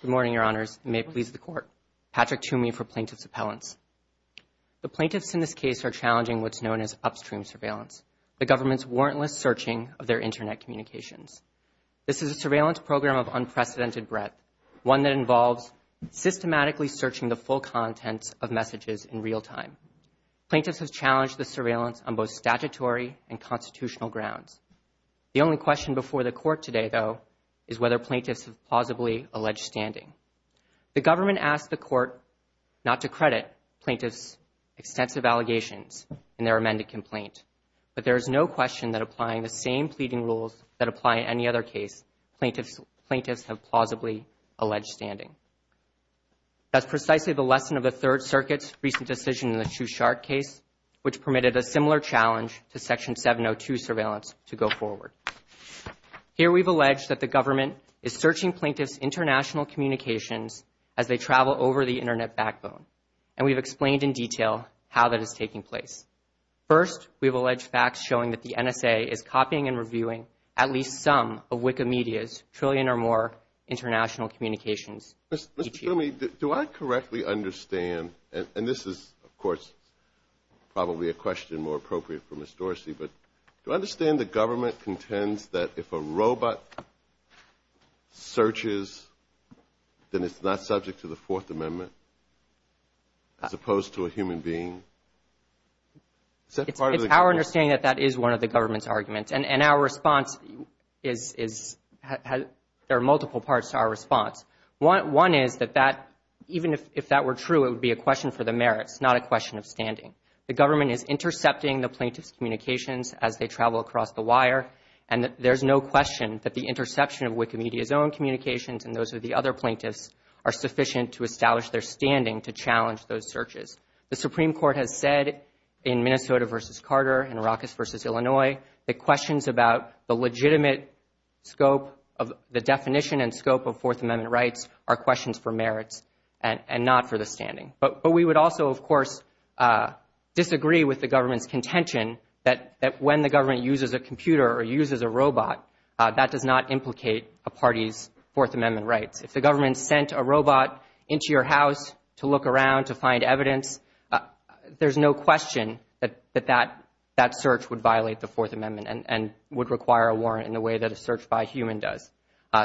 Good morning, Your Honors. May it please the Court. Patrick Toomey for Plaintiff's Appellants. The plaintiffs in this case are challenging what's known as upstream surveillance, the government's warrantless searching of their internet communications. This is a surveillance program of unprecedented breadth, one that involves systematically searching the full contents of messages in real time. Plaintiffs have challenged the surveillance on both statutory and constitutional grounds. The only question before the Court today, though, is whether plaintiffs have plausibly alleged standing. The government asked the Court not to credit plaintiffs' extensive allegations in their amended complaint, but there is no question that applying the same pleading rules that apply in any other case, plaintiffs have plausibly alleged standing. That's precisely the lesson of the Third Circuit's recent decision in the Shushark case, which permitted a similar challenge to Section 702 surveillance to go forward. Here we've alleged that the government is searching plaintiffs' international communications as they travel over the internet backbone, and we've explained in detail how that is taking place. First, we've alleged facts showing that the NSA is copying and reviewing at least some of Wikimedia's trillion or more international communications. Mr. Toomey, do I correctly understand, and this is, of course, probably a question more appropriate for Ms. Dorsey, but do I understand the government contends that if a robot searches, then it's not subject to the Fourth Amendment, as opposed to a human being? It's our understanding that that is one of the government's arguments, and our response is, there are multiple parts to our response. One is that that, even if that were true, it would be a question for the mayor. It's not a question for the governor. It's a question for the plaintiffs' communications as they travel across the wire, and there's no question that the interception of Wikimedia's own communications and those of the other plaintiffs are sufficient to establish their standing to challenge those searches. The Supreme Court has said in Minnesota v. Carter and Ruckus v. Illinois that questions about the legitimate scope of the definition and scope of Fourth Amendment rights are questions for merits and not for the standing. But we would also, of course, disagree with the government's contention that when the government uses a computer or uses a robot, that does not implicate a party's Fourth Amendment rights. If the government sent a robot into your house to look around to find evidence, there's no question that that search would violate the Fourth Amendment and would require a warrant in the way that a search by a human does.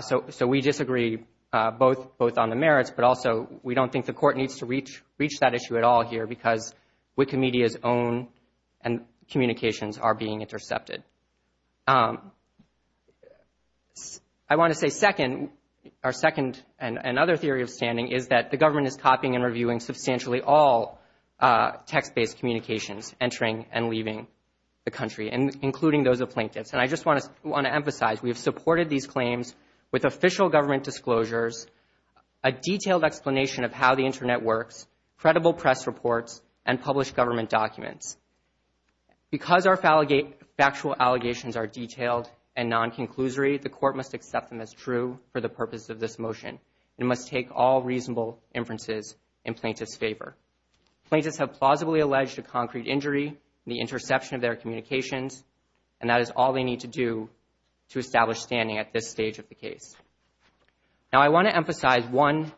So we disagree both on the merits, but also we don't think the court needs to reach that issue at all here because Wikimedia's own communications are being intercepted. I want to say second, our second and another theory of standing is that the government is copying and reviewing substantially all text-based communications entering and leaving the country and including those of plaintiffs. And I just want to want to emphasize we have supported these claims with official government disclosures, a detailed explanation of how the Internet works, credible press reports, and published government documents. Because our factual allegations are detailed and non-conclusory, the court must accept them as true for the purpose of this motion. It must take all reasonable inferences in plaintiffs' favor. Plaintiffs have plausibly alleged a concrete injury, the interception of their communications, and that is all they need to do to establish standing at this stage of the case. Now I want to point out one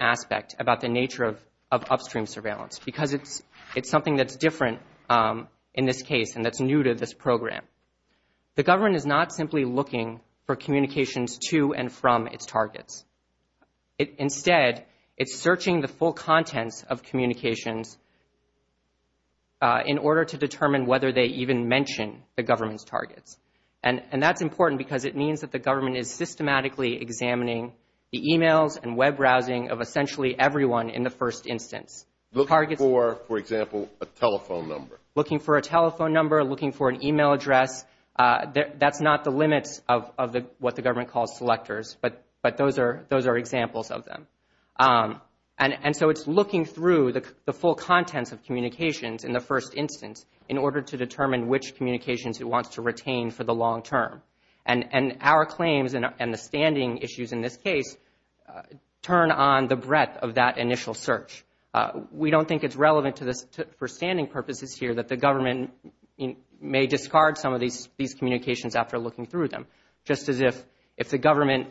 aspect about the nature of upstream surveillance because it's something that's different in this case and that's new to this program. The government is not simply looking for communications to and from its targets. Instead, it's searching the full contents of communications in order to determine whether they even mention the government's targets. And that's important because it means that the government is systematically examining the emails and web browsing of essentially everyone in the first instance. Looking for, for example, a telephone number. Looking for a telephone number, looking for an email address. That's not the limits of what the government calls selectors, but those are examples of them. And so it's looking through the full contents of communications in the first instance in order to determine which communications it wants to retain for the long term. And our claims and the standing issues in this case turn on the breadth of that initial search. We don't think it's relevant for standing purposes here that the government may discard some of these communications after looking through them. Just as if the government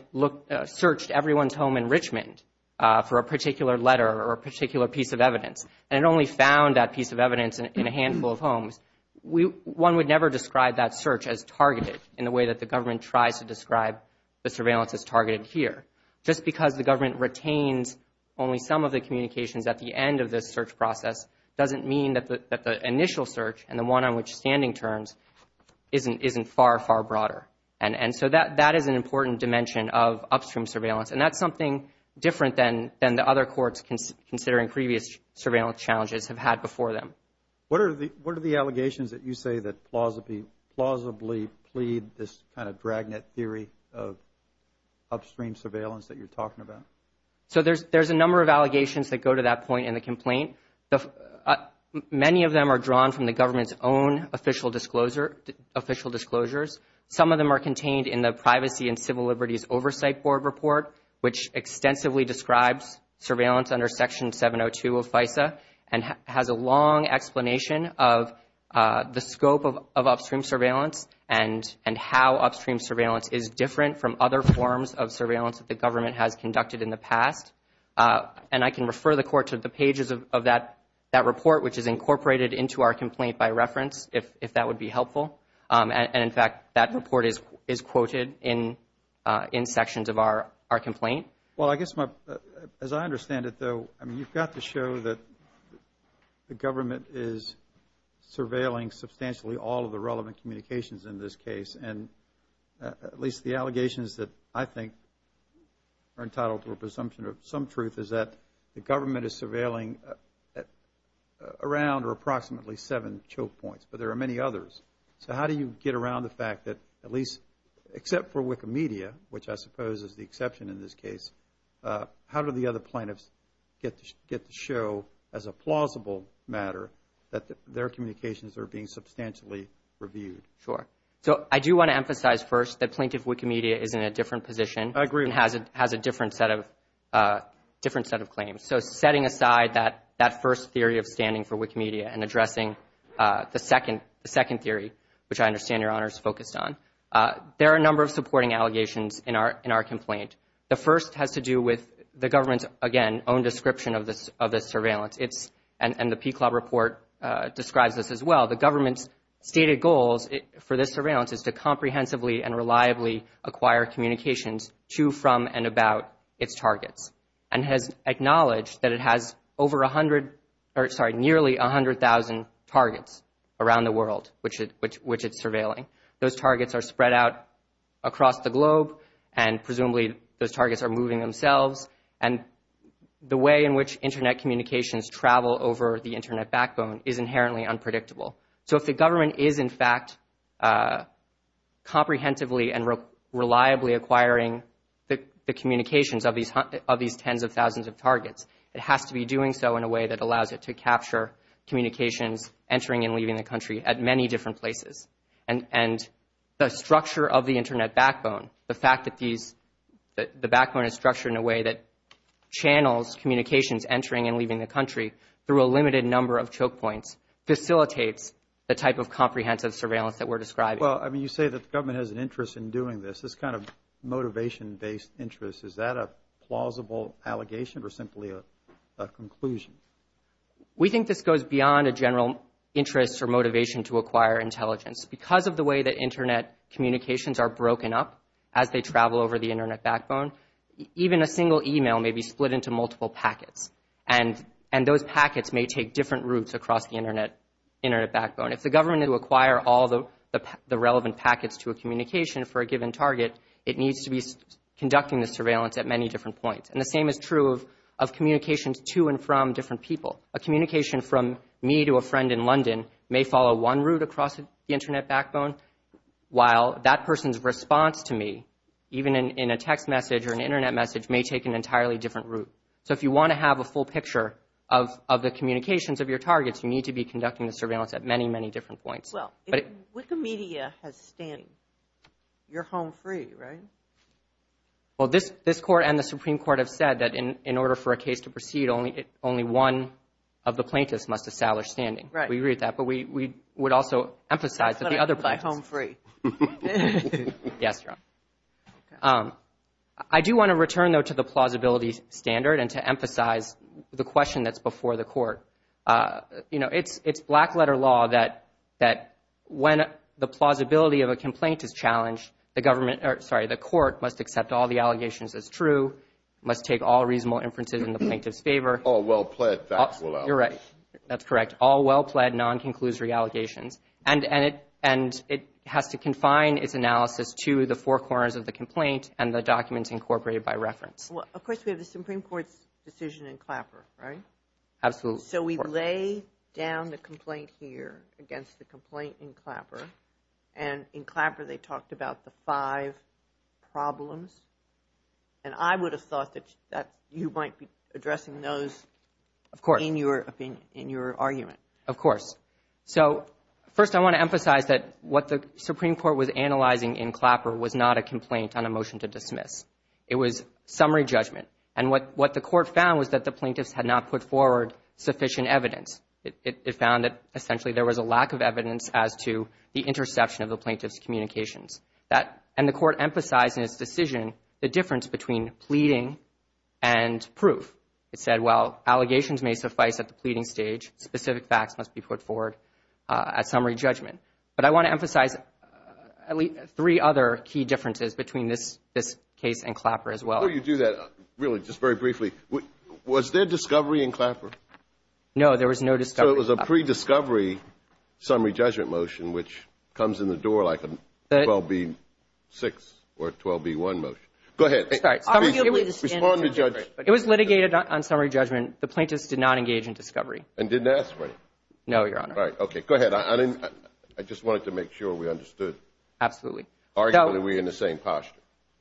searched everyone's home in Richmond for a particular letter or a particular piece of evidence and it only found that piece of evidence in a way that the government tries to describe the surveillance as targeted here. Just because the government retains only some of the communications at the end of this search process doesn't mean that the initial search and the one on which standing terms isn't far, far broader. And so that is an important dimension of upstream surveillance. And that's something different than the other courts considering previous surveillance challenges have had before them. What are the allegations that you say that plausibly plead this kind of dragnet theory of upstream surveillance that you're talking about? So there's a number of allegations that go to that point in the complaint. Many of them are drawn from the government's own official disclosures. Some of them are contained in the Privacy and Civil Liberties Oversight Board report, which extensively describes surveillance under Section 702 of FISA and has a long explanation of the scope of upstream surveillance and how upstream surveillance is different from other forms of surveillance that the government has conducted in the past. And I can refer the Court to the pages of that report, which is incorporated into our complaint by reference, if that would be helpful. And in fact, that report is quoted in sections of our complaint. Well, I guess my, as I understand it, though, I mean, you've got to show that the government is surveilling substantially all of the relevant communications in this case. And at least the allegations that I think are entitled to a presumption of some truth is that the government is surveilling around or approximately seven choke points, but there are many others. So how do you get around the fact that at least, except for Wikimedia, which I suppose is the exception in this case, how do the other plaintiffs get to show as a plausible matter that their communications are being substantially reviewed? Sure. So I do want to emphasize first that Plaintiff Wikimedia is in a different position. I agree. And has a different set of claims. So setting aside that first theory of standing for Wikimedia and addressing the second theory, which I understand Your Honor is focused on, there are a number of supporting allegations in our complaint. The first has to do with the government's, again, own description of this surveillance. It's, and the PCLOB report describes this as well, the government's stated goals for this surveillance is to comprehensively and reliably acquire communications to, from, and about its targets. And has acknowledged that it has over 100, sorry, nearly 100,000 targets around the world which it's surveilling. Those targets are spread out across the globe and presumably those targets are moving themselves. And the way in which internet communications travel over the internet backbone is inherently unpredictable. So if the government is in fact comprehensively and reliably acquiring the communications of these tens of thousands of targets, it has to be doing so in a way that allows it to capture communications entering and leaving the country at many different places. And, and the structure of the internet backbone, the fact that these, that the backbone is structured in a way that channels communications entering and leaving the country through a limited number of choke points, facilitates the type of comprehensive surveillance that we're describing. Well, I mean, you say that the government has an interest in doing this, this kind of motivation based interest. Is that a plausible allegation or simply a, a conclusion? We think this goes beyond a general interest or motivation to acquire intelligence. Because of the way that internet communications are broken up as they travel over the internet backbone, even a single email may be split into multiple packets. And, and those packets may take different routes across the internet, internet backbone. If the government were to acquire all the, the relevant packets to a communication for a given target, it needs to be conducting the surveillance at many different points. And the same is true of, of communications to and from different people. A communication from me to a friend in London may follow one route across the internet backbone, while that person's response to me, even in, in a text message or an internet message may take an entirely different route. So if you want to have a full picture of, of the communications of your targets, you need to be conducting the surveillance at many, many different points. Well, if Wikimedia has standing, you're home free, right? Well, this, this court and the Supreme Court have said that in, in order for a case to proceed, only, only one of the plaintiffs must establish standing. Right. We agree with that. But we, we would also emphasize that the other. But I'm home free. Yes, Your Honor. I do want to return though to the plausibility standard and to emphasize the question that's before the court. You know, it's, it's black letter law that, that when the plausibility of a complaint is challenged, the government, or sorry, the court must accept all the allegations as true, must take all reasonable inferences in the plaintiff's favor. All well pled factual evidence. You're right. That's correct. All well pled non-conclusory allegations. And, and it, and it has to confine its analysis to the four corners of the complaint and the documents incorporated by reference. Well, of course, we have the Supreme Court's decision in Clapper, right? Absolutely. So we lay down the complaint here against the complaint in Clapper. And in Clapper, they talked about the five problems. And I would have thought that, that you might be addressing those. Of course. In your opinion, in your argument. Of course. So, first I want to emphasize that what the Supreme Court was analyzing in Clapper was not a complaint on a motion to dismiss. It was summary judgment. And what, what the court found was that the plaintiffs had not put forward sufficient evidence. It, it, it found that essentially there was a lack of evidence as to the interception of the plaintiff's communications. That, and the court emphasized in its decision the difference between pleading and proof. It said, well, allegations may suffice at the pleading stage. Specific facts must be put forward at summary judgment. But I want to emphasize at least three other key differences between this, this case and Clapper as well. Before you do that, really, just very briefly, was there discovery in Clapper? No, there was no discovery in Clapper. So it was a pre-discovery summary judgment motion which comes in the door like a 12b6 or 12b1 motion. Go ahead. Sorry. It was pre-discovery. On summary judgment, the plaintiffs did not engage in discovery. And didn't ask for it? No, Your Honor. Right. Okay. Go ahead. I didn't, I just wanted to make sure we understood. Absolutely. Arguably, we're in the same posture.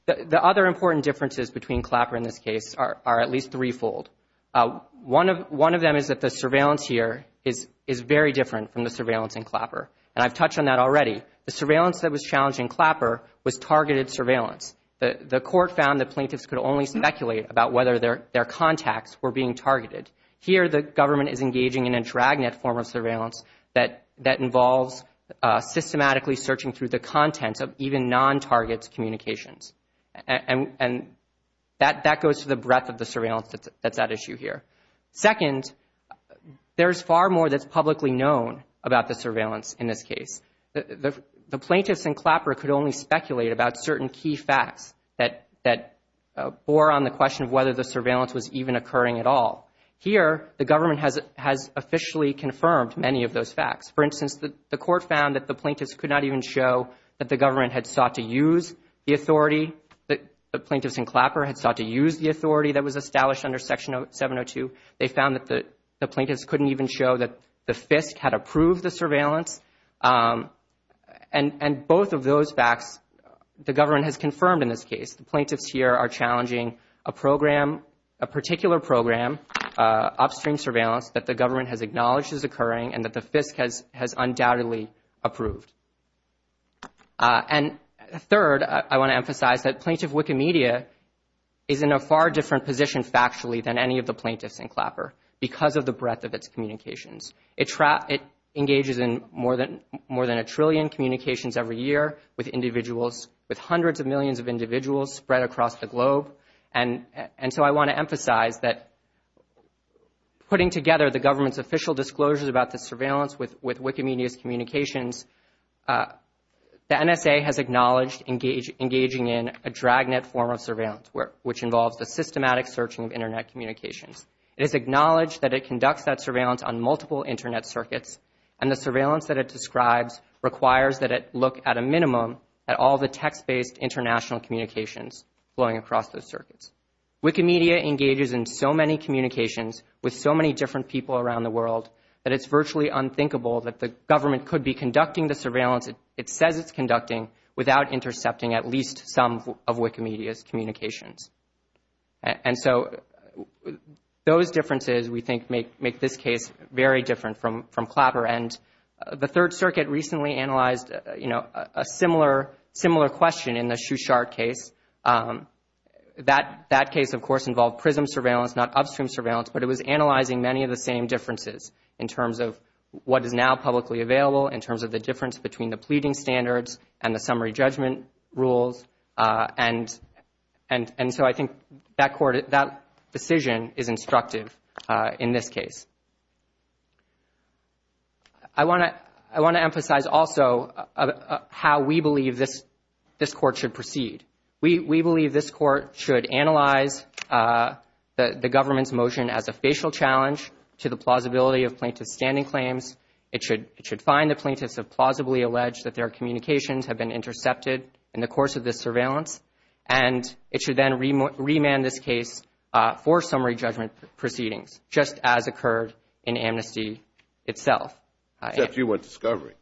The, the other important differences between Clapper and this case are, are at least threefold. One of, one of them is that the surveillance here is, is very different from the surveillance in Clapper. And I've touched on that already. The surveillance that was challenged in Clapper was targeted surveillance. The, the court found that plaintiffs could only speculate about whether their, their contacts were being targeted. Here, the government is engaging in a dragnet form of surveillance that, that involves systematically searching through the contents of even non-targets communications. And, and that, that goes to the breadth of the surveillance that's, that's at issue here. Second, there's far more that's publicly known about the surveillance in this case. The, the, the plaintiffs in Clapper could only speculate about certain key facts that, that bore on the question of whether the surveillance was even occurring at all. Here, the government has, has officially confirmed many of those facts. For instance, the, the court found that the plaintiffs could not even show that the government had sought to use the authority, that the plaintiffs in Clapper had sought to use the authority that was established under Section 702. They found that the, the plaintiffs couldn't even show that the FISC had approved the surveillance. And, and both of those facts the government has confirmed in this case. The plaintiffs here are challenging a program, a particular program, upstream surveillance that the government has acknowledged is occurring and that the FISC has, has undoubtedly approved. And third, I, I want to emphasize that Plaintiff Wikimedia is in a far different position factually than any of the plaintiffs in Clapper, because of the breadth of its communications. It, it engages in more than, more than a trillion communications every year with individuals, with hundreds of millions of individuals spread across the globe. And, and so I want to emphasize that putting together the government's official disclosures about the surveillance with, with Wikimedia's communications the NSA has acknowledged engage, engaging in a dragnet form of surveillance where, which involves the systematic searching of internet communications. It has acknowledged that it conducts that surveillance on multiple internet circuits. And the surveillance that it describes requires that it look at a minimum at all the text-based international communications flowing across those circuits. Wikimedia engages in so many communications with so many different people around the world, that it's virtually unthinkable that the government could be conducting the surveillance it, it says it's conducting without intercepting at least some of Wikimedia's communications. And, and so those differences, we think, make, make this case very different from, from Clapper. And the Third Circuit recently analyzed, you know, a similar, similar question in the Shushart case. That, that case, of course, involved prism surveillance, not upstream surveillance, but it was analyzing many of the same differences in terms of what is now publicly available, in terms of the difference between the pleading standards and the summary judgment rules. And, and, and so I think that court, that decision is instructive in this case. I want to, I want to emphasize also how we believe this, this court should proceed. We, we believe this court should analyze the, the government's motion as a facial challenge to the plausibility of plaintiff's standing claims. It should, it should find the plaintiffs have plausibly alleged that their communications have been intercepted in the course of this surveillance. And it should then re, remand this case for summary judgment proceedings, just as occurred in amnesty itself. Except you want discovery.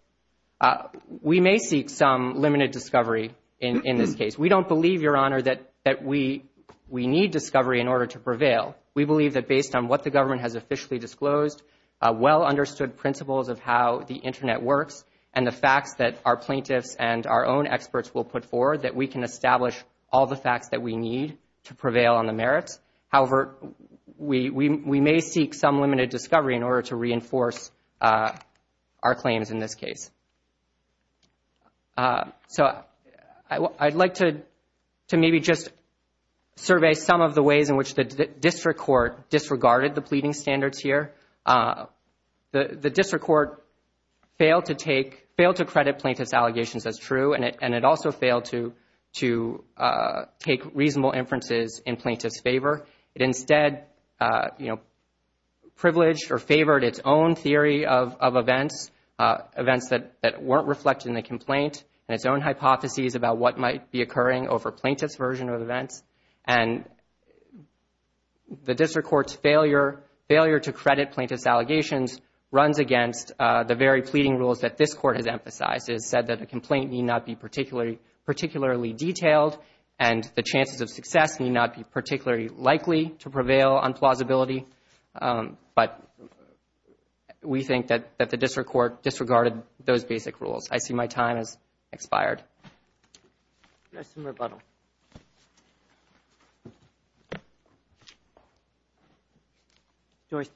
We may seek some limited discovery in, in this case. We don't believe, Your Honor, that, that we, we need discovery in order to prevail. We believe that based on what the government has officially disclosed, well understood principles of how the internet works, and the facts that our plaintiffs and our own experts will put forward, that we can establish all the facts that we need to prevail on the merits. However, we, we, we may seek some limited discovery in order to reinforce our claims in this case. So I, I'd like to, to maybe just survey some of the ways in which the district court disregarded the pleading standards here. The, the district court failed to take, failed to credit plaintiff's allegations as true, and it, and it also failed to, to take reasonable inferences in plaintiff's favor. It instead, you know, privileged or favored its own theory of, of events. Events that, that weren't reflected in the complaint, and its own hypotheses about what might be occurring over plaintiff's version of events. And the district court's failure, failure to credit plaintiff's allegations runs against the very pleading rules that this court has emphasized. It has said that a complaint need not be particularly, particularly detailed, and the chances of success need not be particularly likely to prevail on plausibility, but we think that, that the district court disregarded those basic rules. I see my time has expired. Next in rebuttal. Dorsey.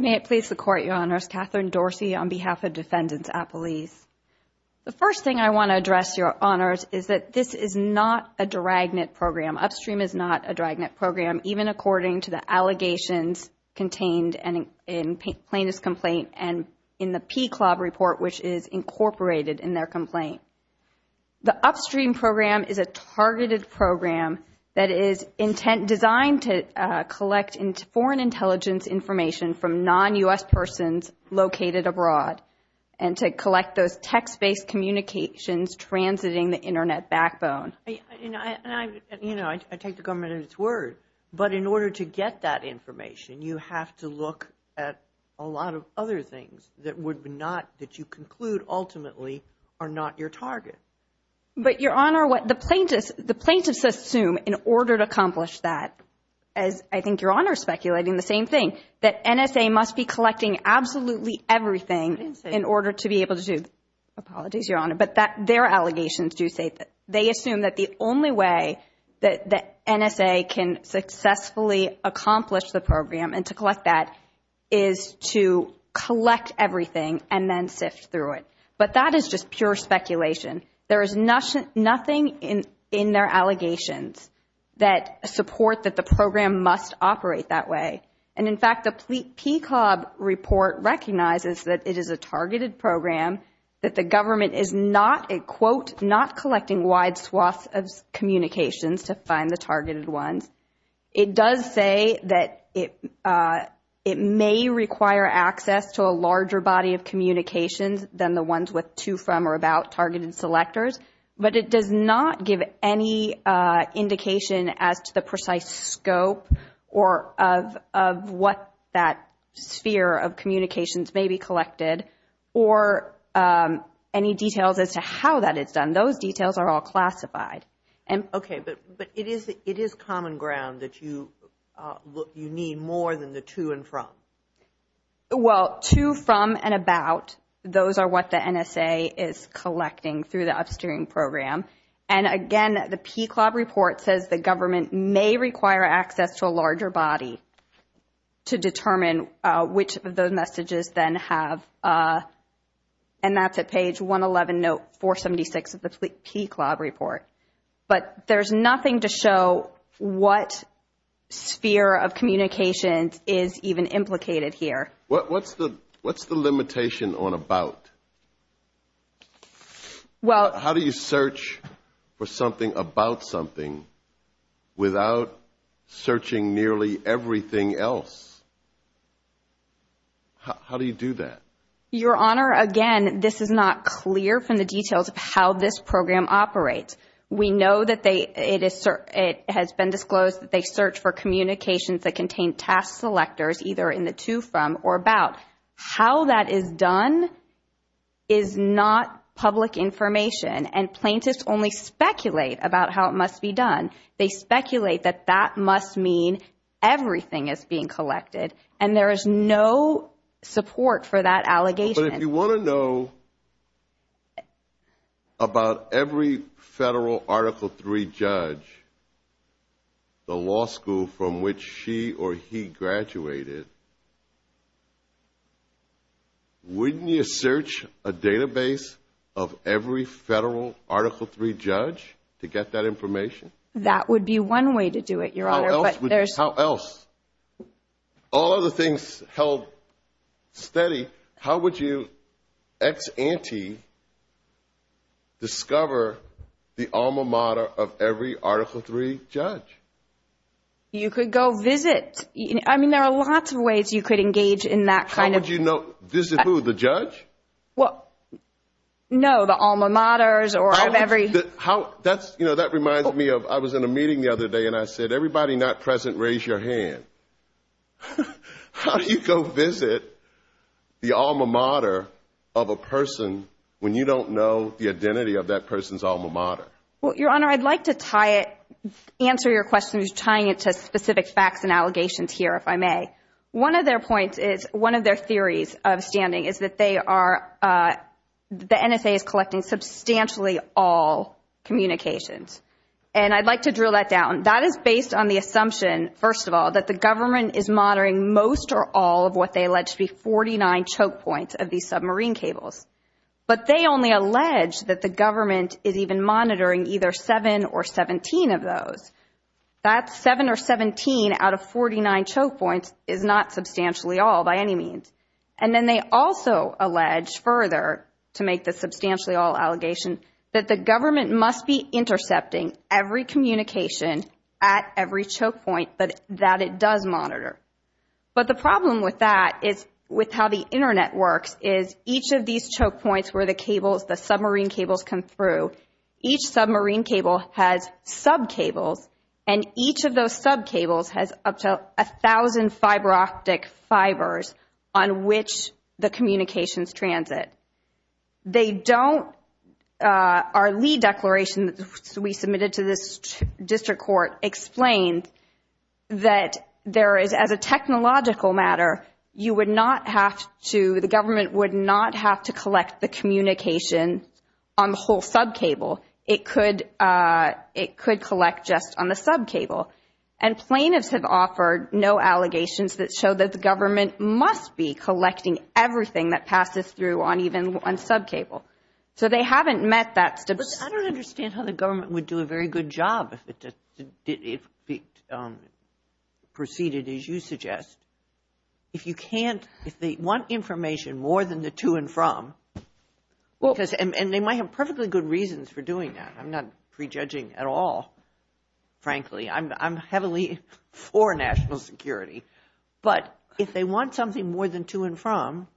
May it please the court, Your Honors. Catherine Dorsey on behalf of Defendants at Police. The first thing I want to address, Your Honors, is that this is not a dragnet program, Upstream is not a dragnet program, even according to the allegations contained in plaintiff's complaint and in the PCLOB report, which is incorporated in their complaint. The Upstream program is a targeted program that is intent, designed to collect foreign intelligence information from non-US persons located abroad, and to collect those text-based communications transiting the Internet backbone. I, you know, I, and I, you know, I, I take the government at its word. But in order to get that information, you have to look at a lot of other things that would not, that you conclude ultimately are not your target. But Your Honor, what the plaintiffs, the plaintiffs assume in order to accomplish that, as I think Your Honor is speculating, the same thing, that NSA must be collecting absolutely everything in order to be able to do. Apologies, Your Honor, but that, their allegations do say that. They assume that the only way that the NSA can successfully accomplish the program and to collect that is to collect everything and then sift through it. But that is just pure speculation. There is nothing in, in their allegations that support that the program must operate that way. And in fact, the PCLOB report recognizes that it is a targeted program, that the government is not, and quote, not collecting wide swaths of communications to find the targeted ones. It does say that it, it may require access to a larger body of communications than the ones with to, from, or about targeted selectors. But it does not give any indication as to the precise scope or of, of what that sphere of communications may be collected. Or any details as to how that is done. Those details are all classified. And- Okay, but, but it is, it is common ground that you look, you need more than the to and from. Well, to, from, and about, those are what the NSA is collecting through the upstream program, and again, the PCLOB report says the government may require access to a, and that's at page 111, note 476 of the PCLOB report. But there's nothing to show what sphere of communications is even implicated here. What, what's the, what's the limitation on about? Well- How do you search for something about something without searching nearly everything else? How, how do you do that? Your Honor, again, this is not clear from the details of how this program operates. We know that they, it is, it has been disclosed that they search for communications that contain task selectors, either in the to, from, or about. How that is done is not public information. And plaintiffs only speculate about how it must be done. They speculate that that must mean everything is being collected. And there is no support for that allegation. But if you want to know about every federal Article III judge, the law school from which she or he graduated, wouldn't you search a database of every federal Article III judge to get that information? That would be one way to do it, Your Honor, but there's- All other things held steady. How would you, ex-ante, discover the alma mater of every Article III judge? You could go visit. I mean, there are lots of ways you could engage in that kind of- How would you know, visit who, the judge? Well, no, the alma maters or of every- How, that's, you know, that reminds me of, I was in a meeting the other day and I said, everybody not present, raise your hand. How do you go visit the alma mater of a person when you don't know the identity of that person's alma mater? Well, Your Honor, I'd like to tie it, answer your question, just tying it to specific facts and allegations here, if I may. One of their points is, one of their theories of standing is that they are, the NSA is collecting substantially all communications. And I'd like to drill that down. That is based on the assumption, first of all, that the government is monitoring most or all of what they allege to be 49 choke points of these submarine cables. But they only allege that the government is even monitoring either 7 or 17 of those. That 7 or 17 out of 49 choke points is not substantially all by any means. And then they also allege further, to make the substantially all allegation, that the government must be intercepting every communication at every choke point, but that it does monitor. But the problem with that is, with how the internet works, is each of these choke points where the cables, the submarine cables come through, each submarine cable has sub-cables. And each of those sub-cables has up to 1,000 fiber-optic fibers on which the communications transit. They don't, our lead declaration that we submitted to this district court explained that there is, as a technological matter, you would not have to, the government would not have to collect the communication on the whole sub-cable, it could collect just on the sub-cable. And plaintiffs have offered no allegations that show that the government must be collecting everything that passes through on even one sub-cable. So they haven't met that. But I don't understand how the government would do a very good job if it proceeded as you suggest. If you can't, if they want information more than the to and from, and they might have perfectly good reasons for doing that. I'm not prejudging at all, frankly. I'm heavily for national security. But if they want something more than to and from,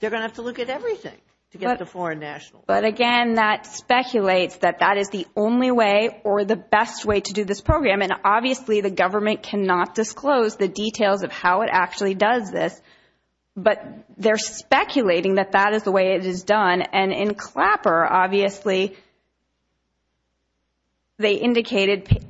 they're going to have to look at everything to get the foreign national. But again, that speculates that that is the only way or the best way to do this program. And obviously, the government cannot disclose the details of how it actually does this. But they're speculating that that is the way it is done. And in Clapper, obviously, they indicated,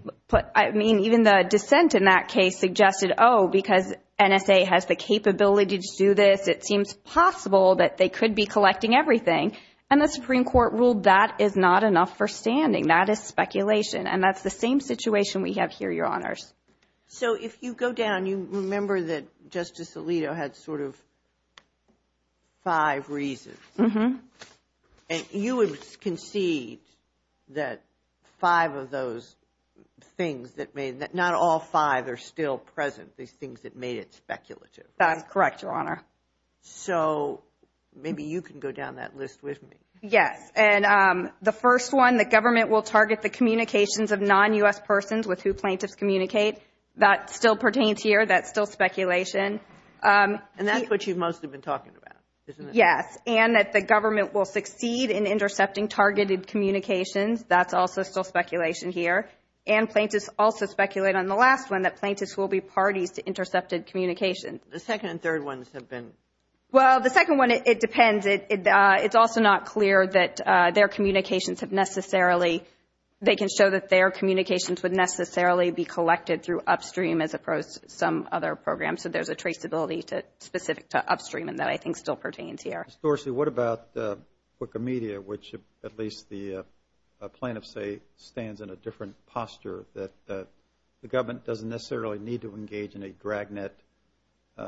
I mean, even the dissent in that case suggested, oh, because NSA has the capability to do this, it seems possible that they could be collecting everything. And the Supreme Court ruled that is not enough for standing. That is speculation. And that's the same situation we have here, Your Honors. So if you go down, you remember that Justice Alito had sort of five reasons. And you would concede that five of those things that made that, not all five are still present, these things that made it speculative. That's correct, Your Honor. So maybe you can go down that list with me. Yes. And the first one, the government will target the communications of non-U.S. persons with who plaintiffs communicate. That still pertains here. That's still speculation. And that's what you most have been talking about, isn't it? Yes. And that the government will succeed in intercepting targeted communications. That's also still speculation here. And plaintiffs also speculate on the last one, that plaintiffs will be parties to intercepted communications. The second and third ones have been? Well, the second one, it depends. It's also not clear that their communications have necessarily, they can show that their communications would necessarily be collected through Upstream as opposed to some other program. So there's a traceability specific to Upstream, and that I think still pertains here. Ms. Dorsey, what about Wikimedia, which at least the plaintiff, say, stands in a different posture, that the government doesn't necessarily need to engage in a dragnet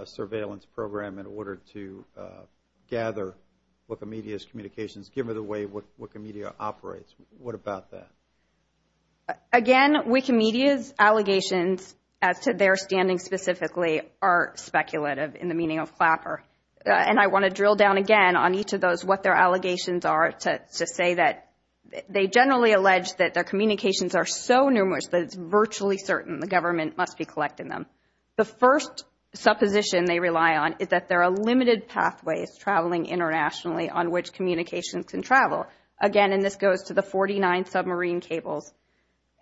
surveillance program in order to gather Wikimedia's communications, given the way Wikimedia operates. What about that? Again, Wikimedia's allegations, as to their standing specifically, are speculative in the meaning of Clapper. And I want to drill down again on each of those, what their allegations are, to say that they generally allege that their communications are so numerous that it's virtually certain the government must be collecting them. The first supposition they rely on is that there are limited pathways traveling internationally on which communications can travel. Again, and this goes to the 49 submarine cables.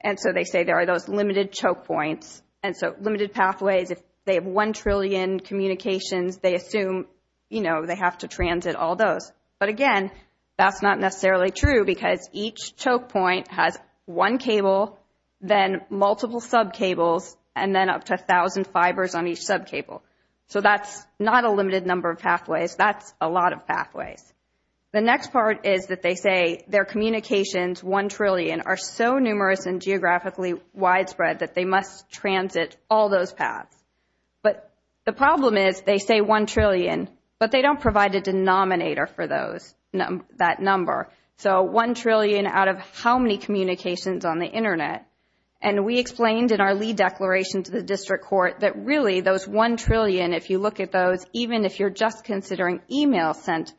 And so they say there are those limited choke points. And so limited pathways, if they have 1 trillion communications, they assume, you know, they have to transit all those. But again, that's not necessarily true because each choke point has one cable, then multiple sub cables, and then up to 1,000 fibers on each sub cable. So that's not a limited number of pathways. That's a lot of pathways. The next part is that they say their communications, 1 trillion, are so numerous and geographically widespread that they must transit all those paths. But the problem is they say 1 trillion, but they don't provide a denominator for those, that number. So 1 trillion out of how many communications on the internet? And we explained in our lead declaration to the district court that really those 1 trillion, if you look at those, even if you're just considering email sent,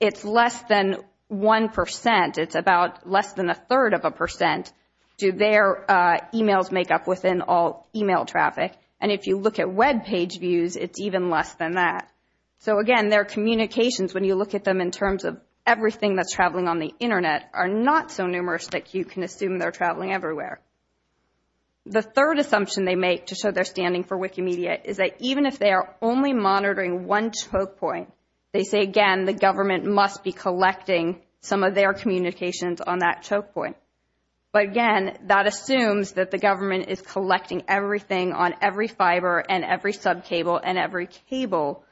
it's less than 1%. It's about less than a third of a percent. Do their emails make up within all email traffic? And if you look at web page views, it's even less than that. So again, their communications, when you look at them in terms of everything that's traveling on the internet, are not so numerous that you can assume they're traveling everywhere. The third assumption they make to show they're standing for Wikimedia is that even if they are only monitoring one choke point, they say, again, the government must be collecting some of their communications on that choke point. But again, that assumes that the government is collecting everything on every fiber and every sub cable and every cable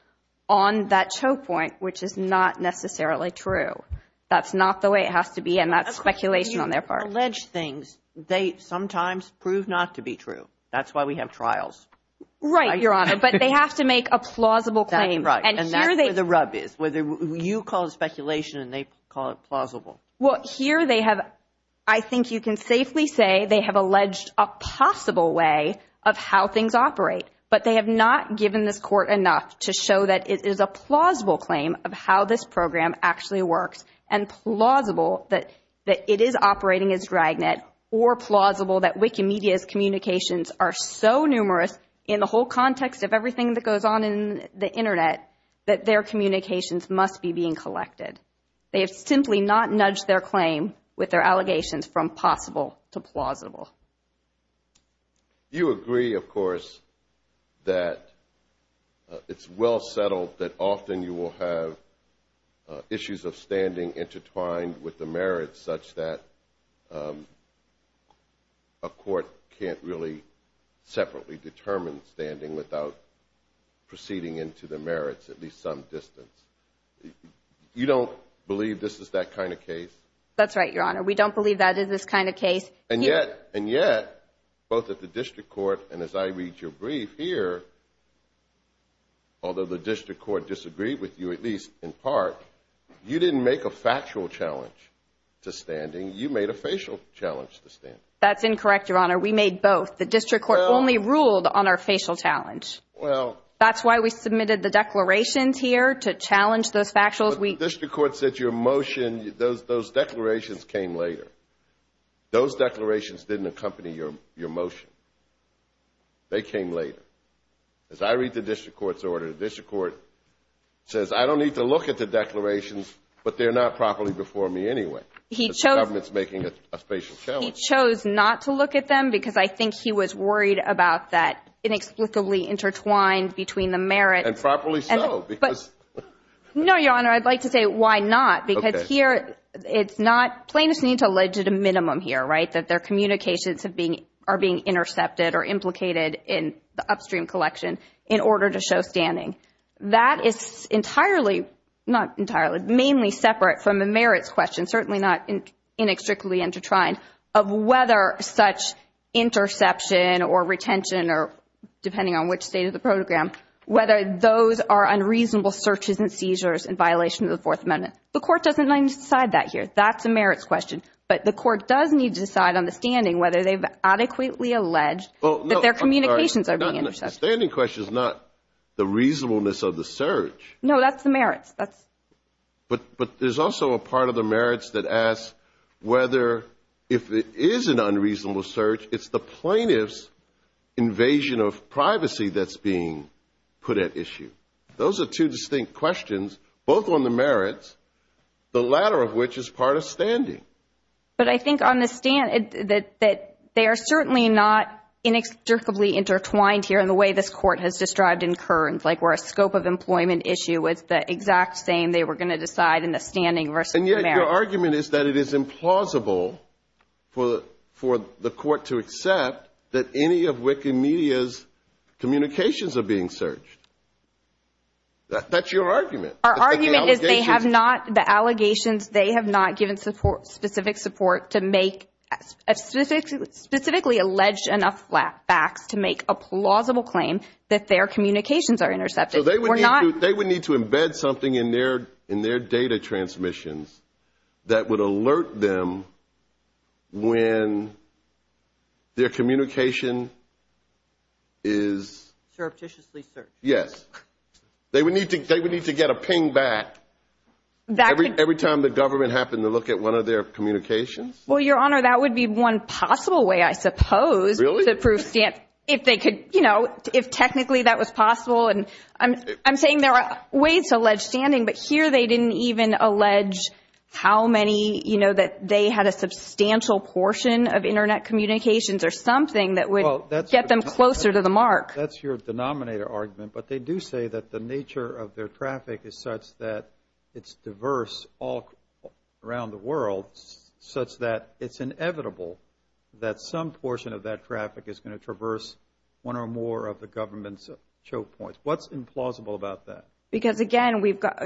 on that choke point, which is not necessarily true. That's not the way it has to be. And that's speculation on their part. Alleged things, they sometimes prove not to be true. That's why we have trials. Right, Your Honor. But they have to make a plausible claim. And that's where the rub is. You call it speculation and they call it plausible. Well, here they have, I think you can safely say, they have alleged a possible way of how things operate. But they have not given this court enough to show that it is a plausible claim of how this program actually works. And plausible that it is operating as Dragnet or plausible that Wikimedia's communications are so numerous in the whole context of everything that goes on in the Internet that their communications must be being collected. They have simply not nudged their claim with their allegations from possible to plausible. You agree, of course, that it's well settled that often you will have issues of standing intertwined with the merits such that a court can't really separately determine standing without proceeding into the merits, at least some distance. You don't believe this is that kind of case? That's right, Your Honor. We don't believe that is this kind of case. And yet, and yet, both at the district court and as I read your brief here, although the district court disagreed with you, at least in part, you didn't make a factual challenge to standing. You made a facial challenge to standing. That's incorrect, Your Honor. We made both. The district court only ruled on our facial challenge. Well. That's why we submitted the declarations here to challenge those factual. The district court said your motion, those declarations came later. Those declarations didn't accompany your motion. They came later. As I read the district court's order, the district court says, I don't need to look at the declarations, but they're not properly before me anyway. He chose. The government's making a facial challenge. He chose not to look at them because I think he was worried about that inexplicably intertwined between the merits. And properly so, because. No, Your Honor. I'd like to say, why not? Because here, it's not, plaintiffs need to allege at a minimum here, right? That their communications have been, are being intercepted or implicated in the upstream collection in order to show standing. That is entirely, not entirely, mainly separate from the merits question, certainly not inextricably intertwined, of whether such interception or retention or, depending on which state of the protogram, whether those are unreasonable searches and seizures in violation of the Fourth Amendment. The court doesn't need to decide that here. That's a merits question. But the court does need to decide on the standing, whether they've adequately alleged that their communications are being intercepted. The standing question is not the reasonableness of the search. No, that's the merits. But there's also a part of the merits that asks whether, if it is an unreasonable search, it's the plaintiff's invasion of privacy that's being put at issue. Those are two distinct questions, both on the merits, the latter of which is part of standing. But I think on the stand, that they are certainly not inextricably intertwined here in the way this court has described in Kearns, like where a scope of employment issue was the exact same they were going to decide in the standing versus the merits. And yet your argument is that it is implausible for the court to accept that any of WIC and Media's communications are being searched. That's your argument. Our argument is they have not, the allegations, they have not given specific support to make, specifically alleged enough facts to make a plausible claim that their communications are intercepted. So they would need to embed something in their data transmissions that would alert them when their communication is... Surreptitiously searched. Yes. They would need to get a ping back. That could... Every time the government happened to look at one of their communications? Well, Your Honor, that would be one possible way, I suppose... Really? ...to prove, if they could, you know, if technically that was possible. And I'm saying there are ways to allege standing, but here they didn't even allege how many, you know, that they had a substantial portion of internet communications or something that would get them closer to the mark. That's your denominator argument. But they do say that the nature of their traffic is such that it's diverse all around the world, such that it's inevitable that some portion of that traffic is going to traverse one or more of the government's choke points. What's implausible about that? Because again, we've got,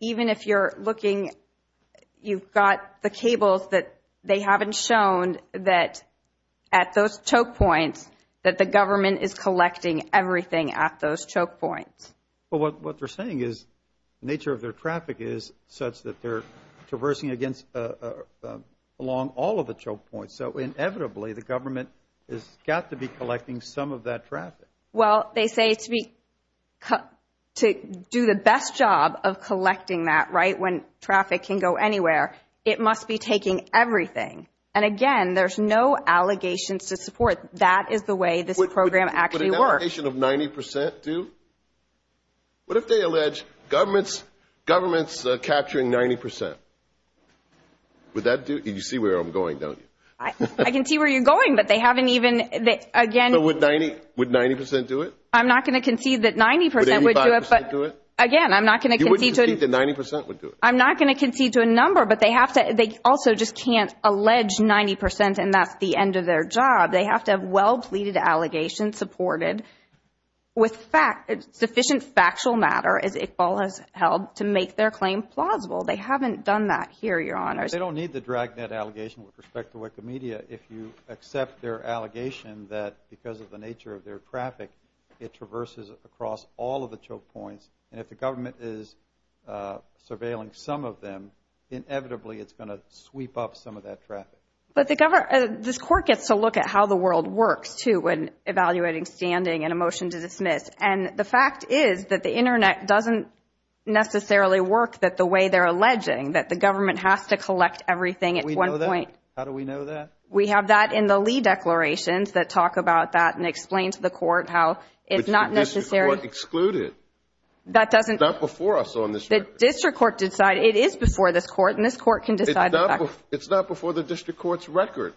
even if you're looking, you've got the cables that they haven't shown that at those choke points, that the government is collecting everything at those choke points. But what they're saying is the nature of their traffic is such that they're traversing against, along all of the choke points. So inevitably, the government has got to be collecting some of that traffic. Well, they say to do the best job of collecting that, right, when traffic can go anywhere, it must be taking everything. And again, there's no allegations to support. That is the way this program actually works. Would an allegation of 90% do? What if they allege government's capturing 90%? Would that do? You see where I'm going, don't you? I can see where you're going, but they haven't even, again... But would 90% do it? I'm not going to concede that 90% would do it. Would 85% do it? Again, I'm not going to concede to... You wouldn't concede that 90% would do it? I'm not going to concede to a number, but they also just can't allege 90% and that's the end of their job. They have to have well-pleaded allegations supported with sufficient factual matter, as Iqbal has held, to make their claim plausible. They haven't done that here, Your Honors. They don't need the dragnet allegation with respect to Wikimedia if you accept their allegation that because of the nature of their traffic, it traverses across all of the choke points, and if the government is surveilling some of them, inevitably, it's going to sweep up some of that traffic. But this court gets to look at how the world works, too, when evaluating standing and a motion to dismiss. And the fact is that the internet doesn't necessarily work the way they're alleging, that the government has to collect everything at one point. How do we know that? We have that in the Lee declarations that talk about that and explain to the court how it's not necessary... It's not before us on this record. The district court decided. It is before this court, and this court can decide the fact. It's not before the district court's record.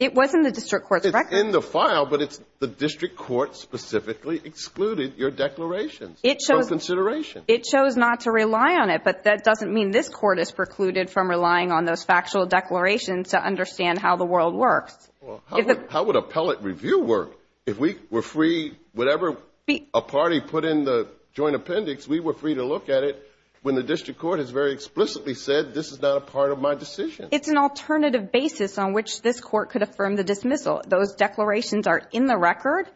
It was in the district court's record. It's in the file, but it's the district court specifically excluded your declarations from consideration. It chose not to rely on it, but that doesn't mean this court is precluded from relying on those factual declarations to understand how the world works. How would appellate review work if we were free, whatever... A party put in the joint appendix, we were free to look at it when the district court has very explicitly said, this is not a part of my decision. It's an alternative basis on which this court could affirm the dismissal. Those declarations are in the record,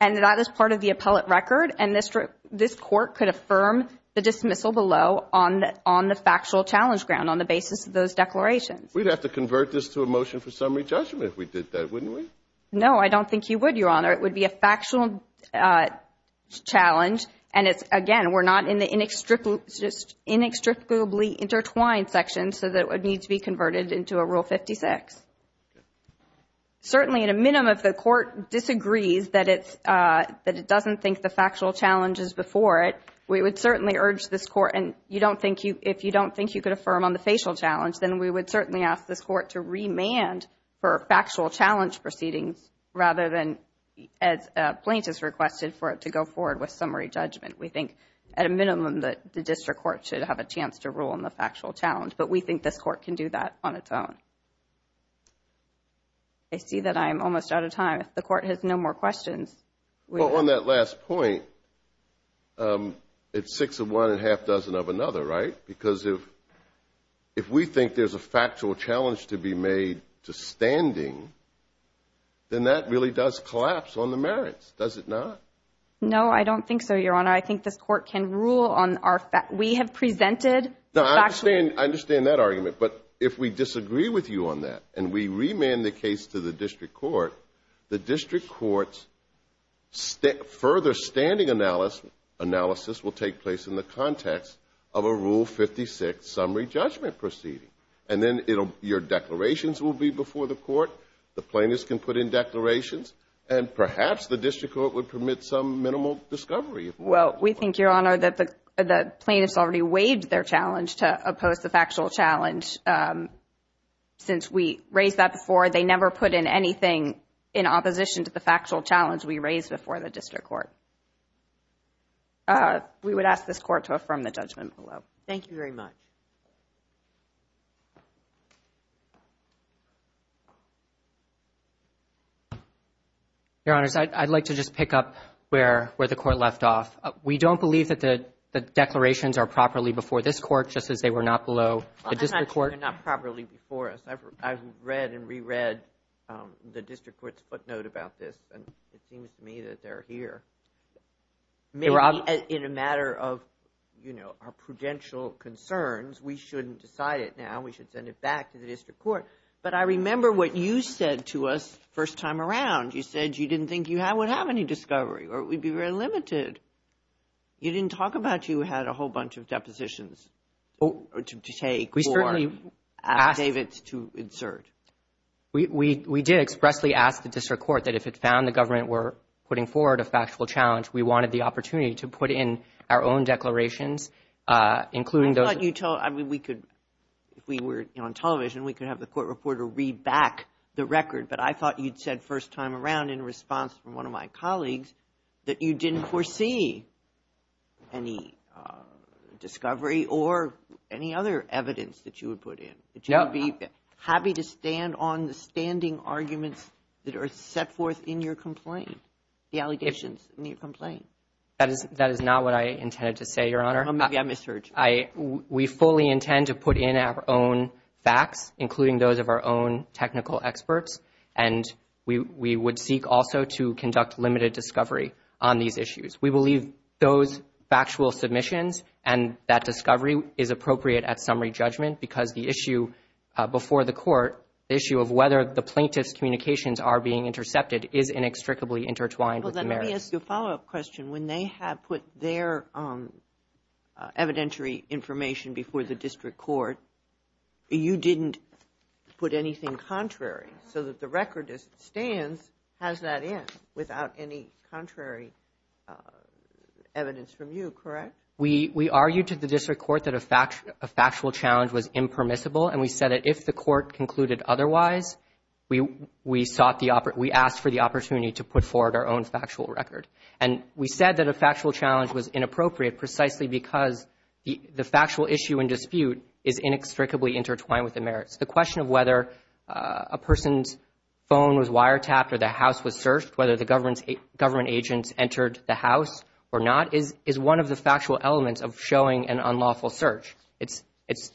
and that is part of the appellate record, and this court could affirm the dismissal below on the factual challenge ground, on the basis of those declarations. We'd have to convert this to a motion for summary judgment if we did that, wouldn't we? No, I don't think you would, Your Honor. It would be a factual challenge, and again, we're not in the inextricably intertwined section, so that would need to be converted into a Rule 56. Certainly, at a minimum, if the court disagrees that it doesn't think the factual challenge is before it, we would certainly urge this court, and if you don't think you could affirm on the facial challenge, then we would certainly ask this court to remand for factual challenge proceedings, rather than, as plaintiffs requested, for it to go forward with summary judgment. We think, at a minimum, that the district court should have a chance to rule on the factual challenge, but we think this court can do that on its own. I see that I'm almost out of time. If the court has no more questions, we will— Well, on that last point, it's six of one and a half dozen of another, right? Because if we think there's a factual challenge to be made to standing, then that really does collapse on the merits, does it not? No, I don't think so, Your Honor. I think this court can rule on our—we have presented the factual— I understand that argument, but if we disagree with you on that and we remand the case to the district court, the district court's further standing analysis will take place in the context of a Rule 56 summary judgment proceeding. And then your declarations will be before the court, the plaintiffs can put in declarations, and perhaps the district court would permit some minimal discovery. Well, we think, Your Honor, that the plaintiffs already waived their challenge to oppose the factual challenge. Since we raised that before, they never put in anything in opposition to the factual challenge we raised before the district court. Uh, we would ask this court to affirm the judgment below. Thank you very much. Your Honors, I'd like to just pick up where the court left off. We don't believe that the declarations are properly before this court, just as they were not below the district court. They're not properly before us. I've read and reread the district court's footnote about this, and it seems to me that they're here. Maybe in a matter of, you know, our prudential concerns, we shouldn't decide it now. We should send it back to the district court. But I remember what you said to us first time around. You said you didn't think you would have any discovery, or it would be very limited. You didn't talk about you had a whole bunch of depositions to take or David to insert. We did expressly ask the district court that if it found the government were putting forward a factual challenge, we wanted the opportunity to put in our own declarations, including those that you told. I mean, we could, if we were on television, we could have the court reporter read back the record. But I thought you'd said first time around in response from one of my colleagues that you didn't foresee any discovery or any other evidence that you would put in that you would be happy to stand on the standing arguments that are set forth in your complaint. The allegations in your complaint. That is not what I intended to say, Your Honor. Maybe I misheard you. We fully intend to put in our own facts, including those of our own technical experts. And we would seek also to conduct limited discovery on these issues. We believe those factual submissions and that discovery is appropriate at summary judgment because the issue before the court, the issue of whether the plaintiff's communications are being intercepted is inextricably intertwined with the merits. Well, then let me ask you a follow-up question. When they have put their evidentiary information before the district court, you didn't put anything contrary so that the record as it stands has that in without any contrary evidence from you, correct? We argued to the district court that a factual challenge was impermissible, and we said that the court concluded otherwise, we sought the, we asked for the opportunity to put forward our own factual record. And we said that a factual challenge was inappropriate precisely because the factual issue and dispute is inextricably intertwined with the merits. The question of whether a person's phone was wiretapped or the house was searched, whether the government agents entered the house or not is one of the factual elements of showing an unlawful search. It's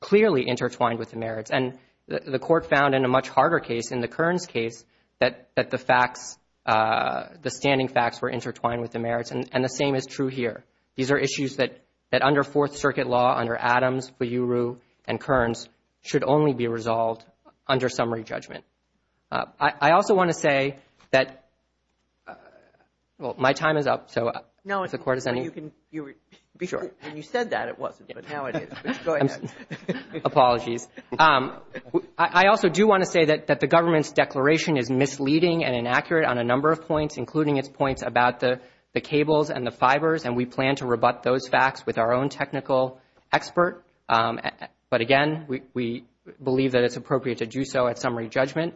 clearly intertwined with the merits. And the court found in a much harder case, in the Kearns case, that the facts, the standing facts were intertwined with the merits, and the same is true here. These are issues that under Fourth Circuit law, under Adams, Fuyuru, and Kearns, should only be resolved under summary judgment. I also want to say that, well, my time is up, so if the court has any. Sure. And you said that, it wasn't, but now it is, but go ahead. Apologies. I also do want to say that the government's declaration is misleading and inaccurate on a number of points, including its points about the cables and the fibers, and we plan to rebut those facts with our own technical expert. But again, we believe that it's appropriate to do so at summary judgment.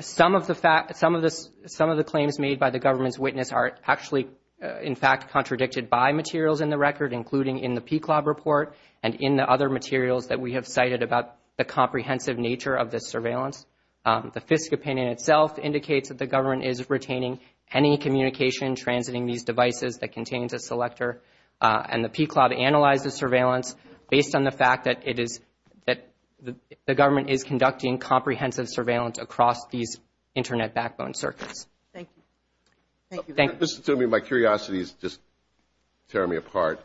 Some of the claims made by the government's witness are actually, in fact, contradicted by materials in the record, including in the PCLOB report and in the other materials that we have cited about the comprehensive nature of this surveillance. The FISC opinion itself indicates that the government is retaining any communication transiting these devices that contains a selector, and the PCLOB analyzes surveillance based on the fact that it is, that the government is conducting comprehensive surveillance Thank you. Thank you. Mr. Toomey, my curiosity is just tearing me apart.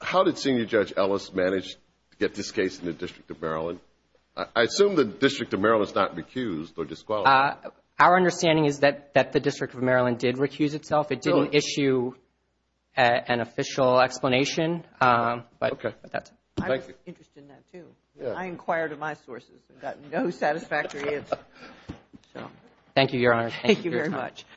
How did Senior Judge Ellis manage to get this case in the District of Maryland? I assume the District of Maryland is not recused or disqualified. Our understanding is that the District of Maryland did recuse itself. It didn't issue an official explanation, but that's it. I was interested in that, too. I inquired of my sources and got no satisfactory answer. Thank you, Your Honor. Thank you very much.